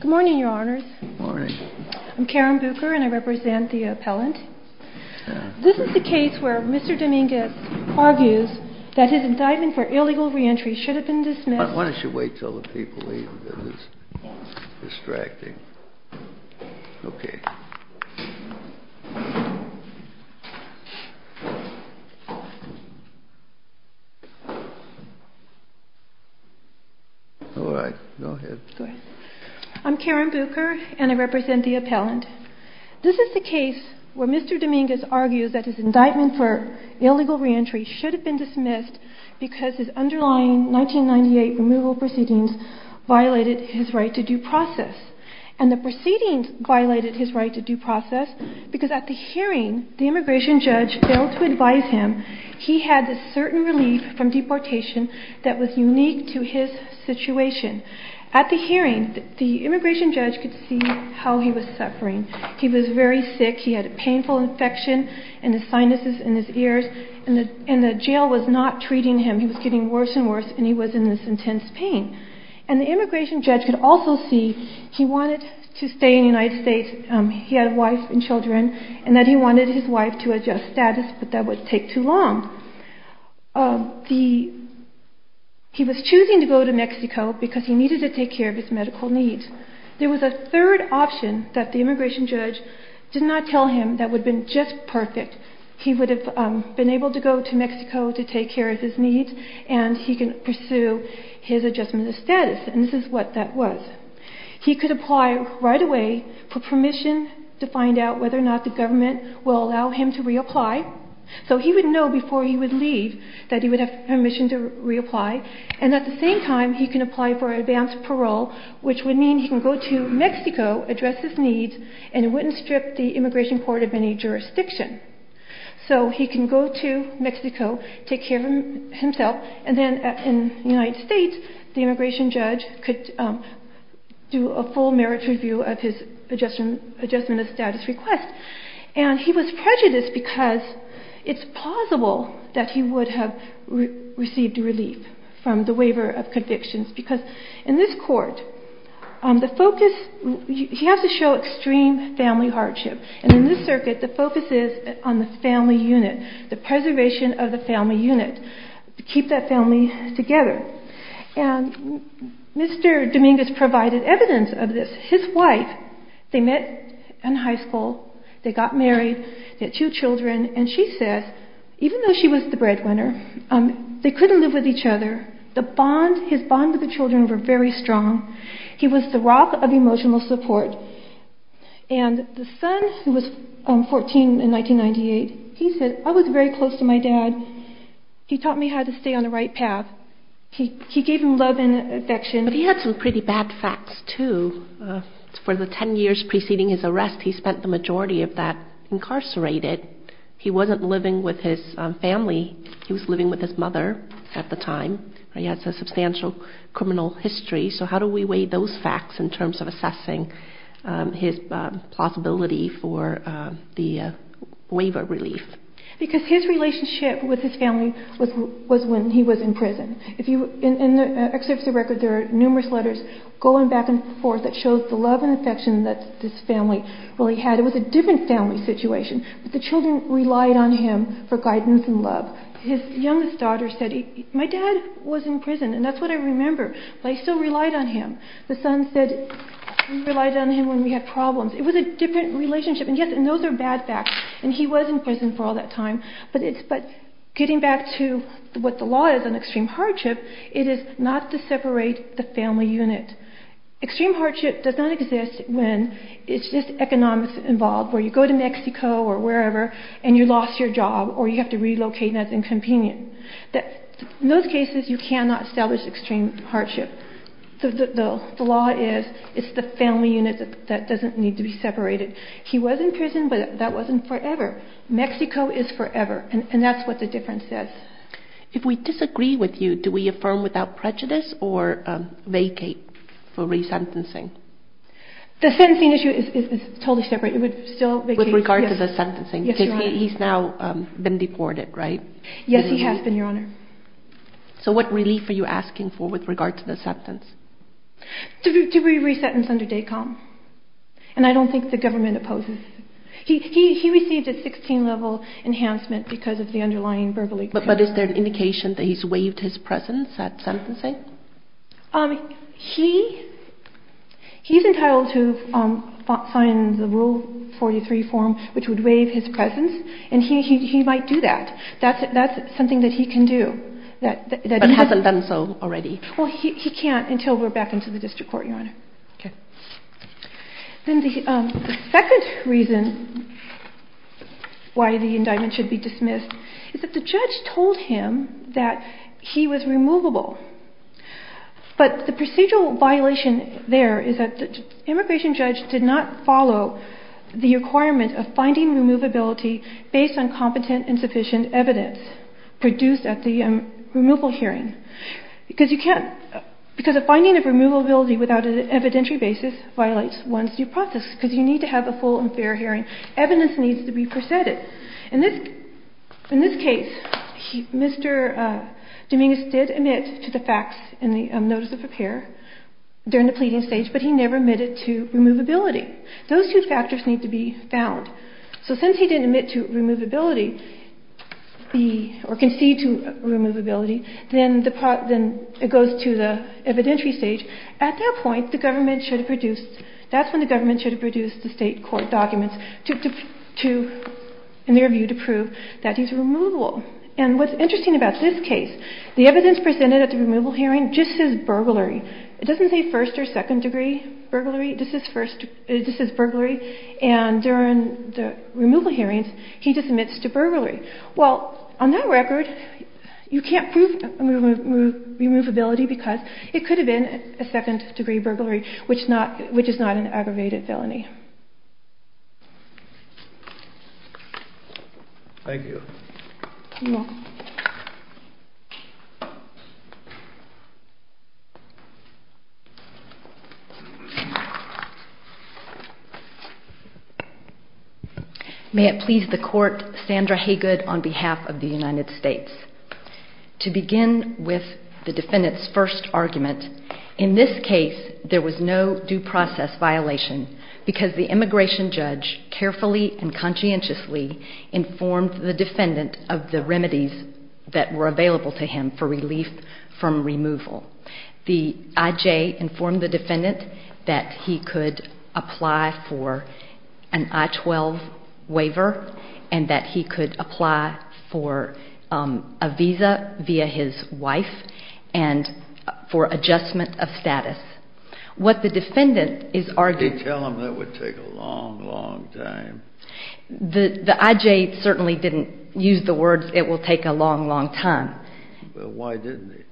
Good morning, your honors. I'm Karen Bucher and I represent the appellant. This is the case where Mr. Dominguez argues that his indictment for illegal re-entry should have been dismissed. Why don't you wait until the people leave, it is distracting. Okay. All right, go ahead. I'm Karen Bucher and I represent the appellant. This is the case where Mr. Dominguez argues that his indictment for illegal re-entry should have been dismissed because his underlying 1998 removal proceedings violated his right to due process. And the proceedings violated his right to due process because at the hearing, the immigration judge failed to advise him he had this certain relief from deportation that was unique to his situation. At the hearing, the immigration judge could see how he was suffering. He was very sick, he had a painful infection in his sinuses, in his ears, and the jail was not treating him. He was getting worse and worse and he was in this intense pain. And the immigration judge could also see he wanted to stay in the United States, he had a wife and children, and that he wanted his wife to adjust status but that would take too long. He was choosing to go to Mexico because he needed to take care of his medical needs. There was a third option that the immigration judge did not tell him that would have been just perfect. He would have been able to go to Mexico to take care of his needs and he could pursue his adjustment of status and this is what that was. He could apply right away for permission to find out whether or not the government would allow him to reapply. So he would know before he would leave that he would have permission to reapply and at the same time he could apply for advanced parole which would mean he could go to Mexico, address his needs, and he wouldn't strip the immigration court of any jurisdiction. So he can go to Mexico, take care of himself, and then in the United States the immigration judge could do a full merit review of his adjustment of status request. And he was prejudiced because it's plausible that he would have received relief from the waiver of convictions because in this court, the focus, he has to show extreme family hardship. And in this circuit, the focus is on the family unit, the preservation of the family unit, to keep that family together. And Mr. Dominguez provided evidence of this. His wife, they met in high school, they got married, they had two children, and she said, even though she was the breadwinner, they couldn't live with each other. His bond with the children were very strong. He was the rock of emotional support. And the son, who was 14 in 1998, he said, I was very close to my dad. He taught me how to stay on the right path. He gave him love and affection. But he had some pretty bad facts, too. For the 10 years preceding his arrest, he spent the majority of that incarcerated. He wasn't living with his family. He was living with his mother at the time. He has a substantial criminal history. So how do we weigh those facts in terms of assessing his plausibility for the waiver relief? Because his relationship with his family was when he was in prison. In the excerpt of the record, there are numerous letters going back and forth that show the love and affection that this family really had. It was a different family situation, but the children relied on him for guidance and love. His youngest daughter said, my dad was in prison, and that's what I remember, but I still relied on him. The son said, we relied on him when we had problems. It was a different relationship, and yes, those are bad facts, and he was in prison for all that time. But getting back to what the law is on extreme hardship, it is not to separate the family unit. Extreme hardship does not exist when it's just economics involved, where you go to Mexico or wherever, and you lost your job, or you have to relocate and that's inconvenient. In those cases, you cannot establish extreme hardship. The law is, it's the family unit that doesn't need to be separated. He was in prison, but that wasn't forever. Mexico is forever, and that's what the difference is. If we disagree with you, do we affirm without prejudice or vacate for resentencing? The sentencing issue is totally separate. It would still vacate. With regard to the sentencing? Yes, Your Honor. Because he's now been deported, right? Yes, he has been, Your Honor. So what relief are you asking for with regard to the sentence? Do we resentence under DACOM? And I don't think the government opposes. He received a 16-level enhancement because of the underlying verbal abuse. But is there an indication that he's waived his presence at sentencing? He's entitled to sign the Rule 43 form, which would waive his presence, and he might do that. That's something that he can do. But hasn't done so already? Well, he can't until we're back into the district court, Your Honor. Okay. Then the second reason why the indictment should be dismissed is that the judge told him that he was removable. But the procedural violation there is that the immigration judge did not follow the requirement of finding removability based on competent and sufficient evidence produced at the removal hearing. Because a finding of removability without an evidentiary basis violates one's due process, because you need to have a full and fair hearing. Evidence needs to be presented. In this case, Mr. Dominguez did admit to the facts in the notice of repair during the pleading stage, but he never admitted to removability. Those two factors need to be found. So since he didn't admit to removability, or concede to removability, then it goes to the evidentiary stage. At that point, the government should have produced, that's when the government should have produced the state court documents in their view to prove that he's removable. And what's interesting about this case, the evidence presented at the removal hearing just says burglary. It doesn't say first or second degree burglary. This is burglary. And during the removal hearings, he just admits to burglary. Well, on that record, you can't prove removability because it could have been a second degree burglary, which is not an aggravated felony. Thank you. You're welcome. May it please the court, Sandra Haygood on behalf of the United States. To begin with the defendant's first argument, in this case, there was no due process violation because the immigration judge carefully and conscientiously informed the defendant of the remedies that were available to him for relief from removal. The I.J. informed the defendant that he could apply for an I-12 waiver and that he could apply for a visa via his wife and for adjustment of status. What the defendant is arguing... They tell him that would take a long, long time. The I.J. certainly didn't use the words, it will take a long, long time. Well, why didn't he?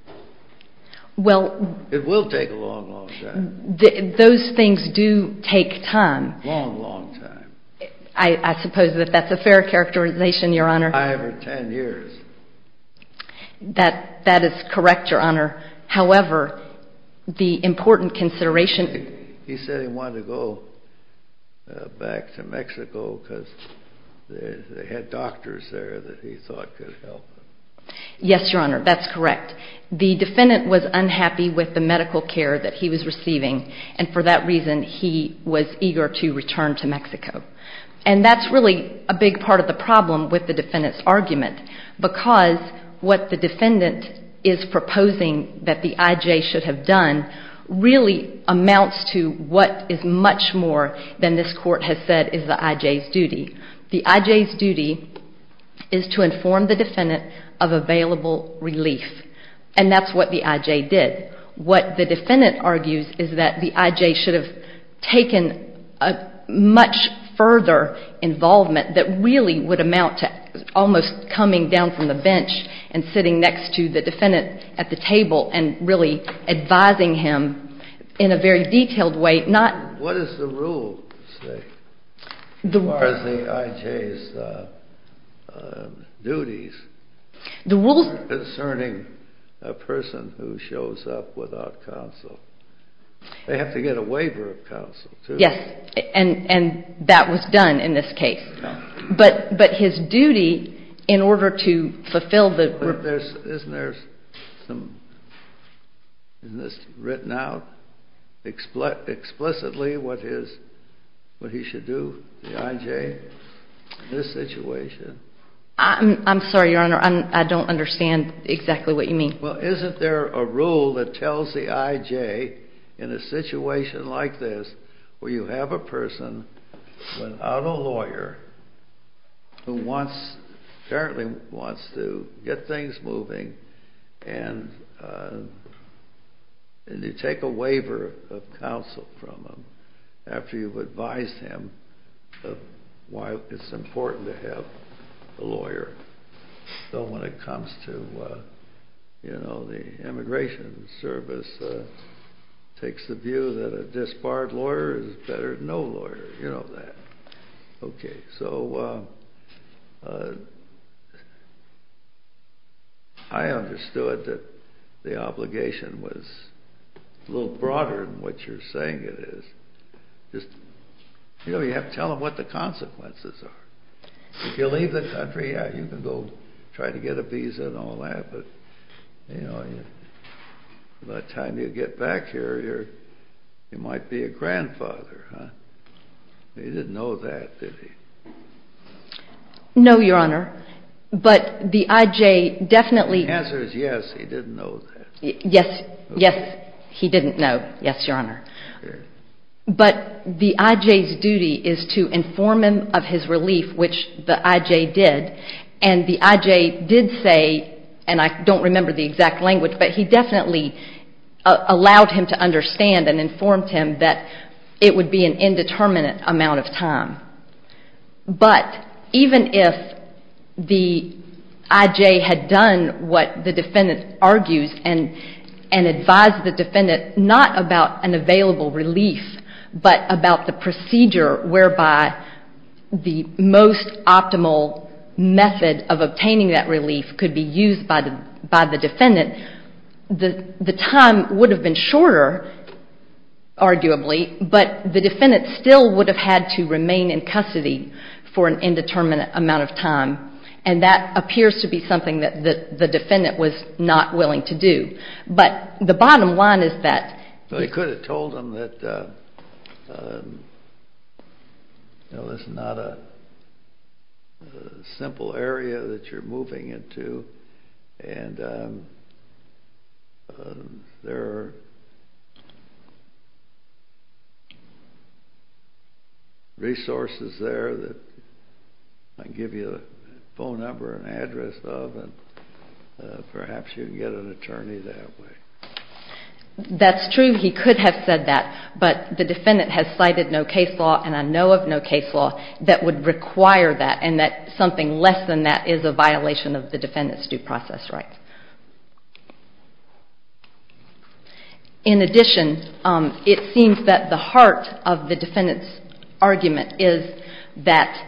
Well... It will take a long, long time. Those things do take time. Long, long time. I suppose that that's a fair characterization, Your Honor. Five or ten years. That is correct, Your Honor. However, the important consideration... He said he wanted to go back to Mexico because they had doctors there that he thought could help him. Yes, Your Honor, that's correct. The defendant was unhappy with the medical care that he was receiving and for that reason he was eager to return to Mexico. And that's really a big part of the problem with the defendant's argument because what the defendant is proposing that the I.J. should have done really amounts to what is much more than this Court has said is the I.J.'s duty. The I.J.'s duty is to inform the defendant of available relief. And that's what the I.J. did. What the defendant argues is that the I.J. should have taken much further involvement that really would amount to almost coming down from the bench and sitting next to the defendant at the table and really advising him in a very detailed way, not... ...concerning a person who shows up without counsel. They have to get a waiver of counsel, too. Yes, and that was done in this case. But his duty in order to fulfill the... Isn't this written out explicitly what he should do, the I.J., in this situation? I'm sorry, Your Honor, I don't understand exactly what you mean. Well, isn't there a rule that tells the I.J. in a situation like this where you have a person without a lawyer who apparently wants to get things moving and you take a waiver of counsel from him after you've advised him why it's important to have a lawyer? So when it comes to, you know, the immigration service takes the view that a disbarred lawyer is better than no lawyer, you know that. Okay, so I understood that the obligation was a little broader than what you're saying it is. You know, you have to tell them what the consequences are. If you leave the country, yeah, you can go try to get a visa and all that, but, you know, by the time you get back here, you might be a grandfather, huh? He didn't know that, did he? No, Your Honor, but the I.J. definitely... The answer is yes, he didn't know that. Yes, yes, he didn't know, yes, Your Honor. But the I.J.'s duty is to inform him of his relief, which the I.J. did, and the I.J. did say, and I don't remember the exact language, but he definitely allowed him to understand and informed him that it would be an indeterminate amount of time. But even if the I.J. had done what the defendant argues and advised the defendant not about an available relief, but about the procedure whereby the most optimal method of obtaining that relief could be used by the defendant, the time would have been shorter, arguably, but the defendant still would have had to remain in custody for an indeterminate amount of time, and that appears to be something that the defendant was not willing to do. But the bottom line is that... You know, it's not a simple area that you're moving into, and there are resources there that I can give you a phone number and address of, and perhaps you can get an attorney that way. That's true, he could have said that, but the defendant has cited no case law, and I know of no case law that would require that, and that something less than that is a violation of the defendant's due process rights. In addition, it seems that the heart of the defendant's argument is that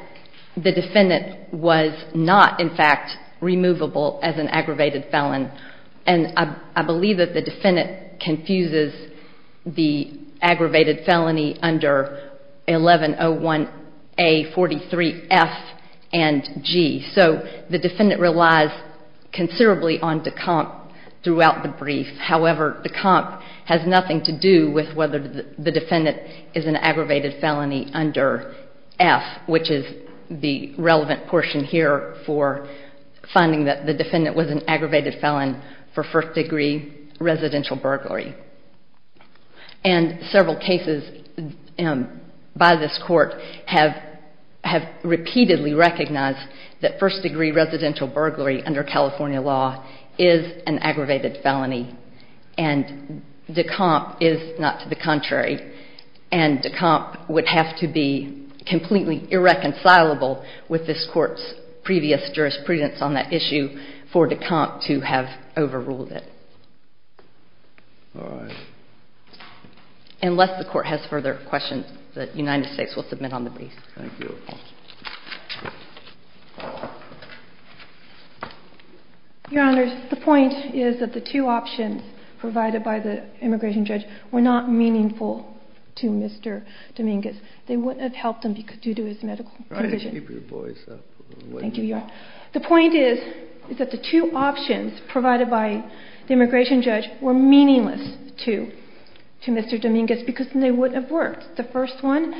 the defendant was not, in fact, removable as an aggravated felon, and I believe that the defendant confuses the aggravated felony under 1101A43F and G. So the defendant relies considerably on de compte throughout the brief. However, de compte has nothing to do with whether the defendant is an aggravated felony under F, which is the relevant portion here for finding that the defendant was an aggravated felon for first-degree residential burglary. And several cases by this Court have repeatedly recognized that first-degree residential burglary under California law is an aggravated felony, and de compte is not to the contrary. And de compte would have to be completely irreconcilable with this Court's previous jurisprudence on that issue for de compte to have overruled it. All right. Unless the Court has further questions, the United States will submit on the brief. Thank you. Your Honors, the point is that the two options provided by the immigration judge were not meaningful to Mr. Dominguez. They wouldn't have helped him due to his medical condition. Try to keep your voice up. Thank you, Your Honor. The point is that the two options provided by the immigration judge were meaningless to Mr. Dominguez because they wouldn't have worked. The first one,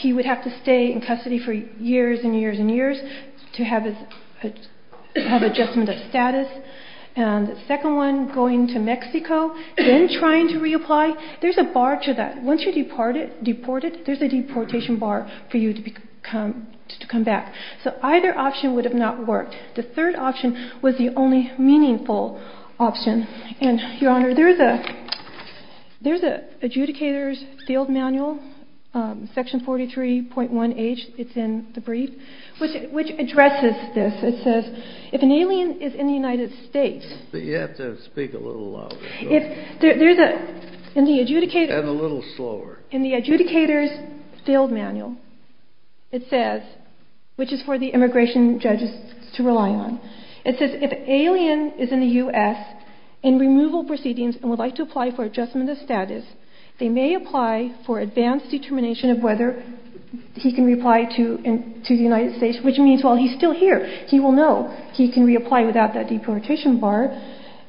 he would have to stay in custody for years and years and years to have adjustment of status. And the second one, going to Mexico, then trying to reapply, there's a bar to that. Once you're deported, there's a deportation bar for you to come back. So either option would have not worked. The third option was the only meaningful option. And, Your Honor, there's an adjudicator's field manual, section 43.1H. It's in the brief, which addresses this. It says, if an alien is in the United States. But you have to speak a little louder. If there's a – in the adjudicator's – And a little slower. In the adjudicator's field manual, it says, which is for the immigration judges to rely on, it says, if an alien is in the U.S. in removal proceedings and would like to apply for adjustment of status, they may apply for advanced determination of whether he can reapply to the United States, which means while he's still here, he will know he can reapply without that deportation bar,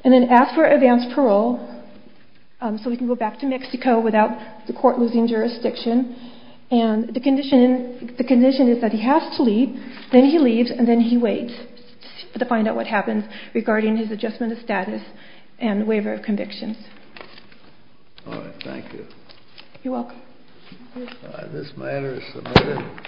and then ask for advanced parole so he can go back to Mexico without the court losing jurisdiction. And the condition is that he has to leave, then he leaves, and then he waits to find out what happens regarding his adjustment of status and waiver of convictions. All right. Thank you. You're welcome. This matter is submitted.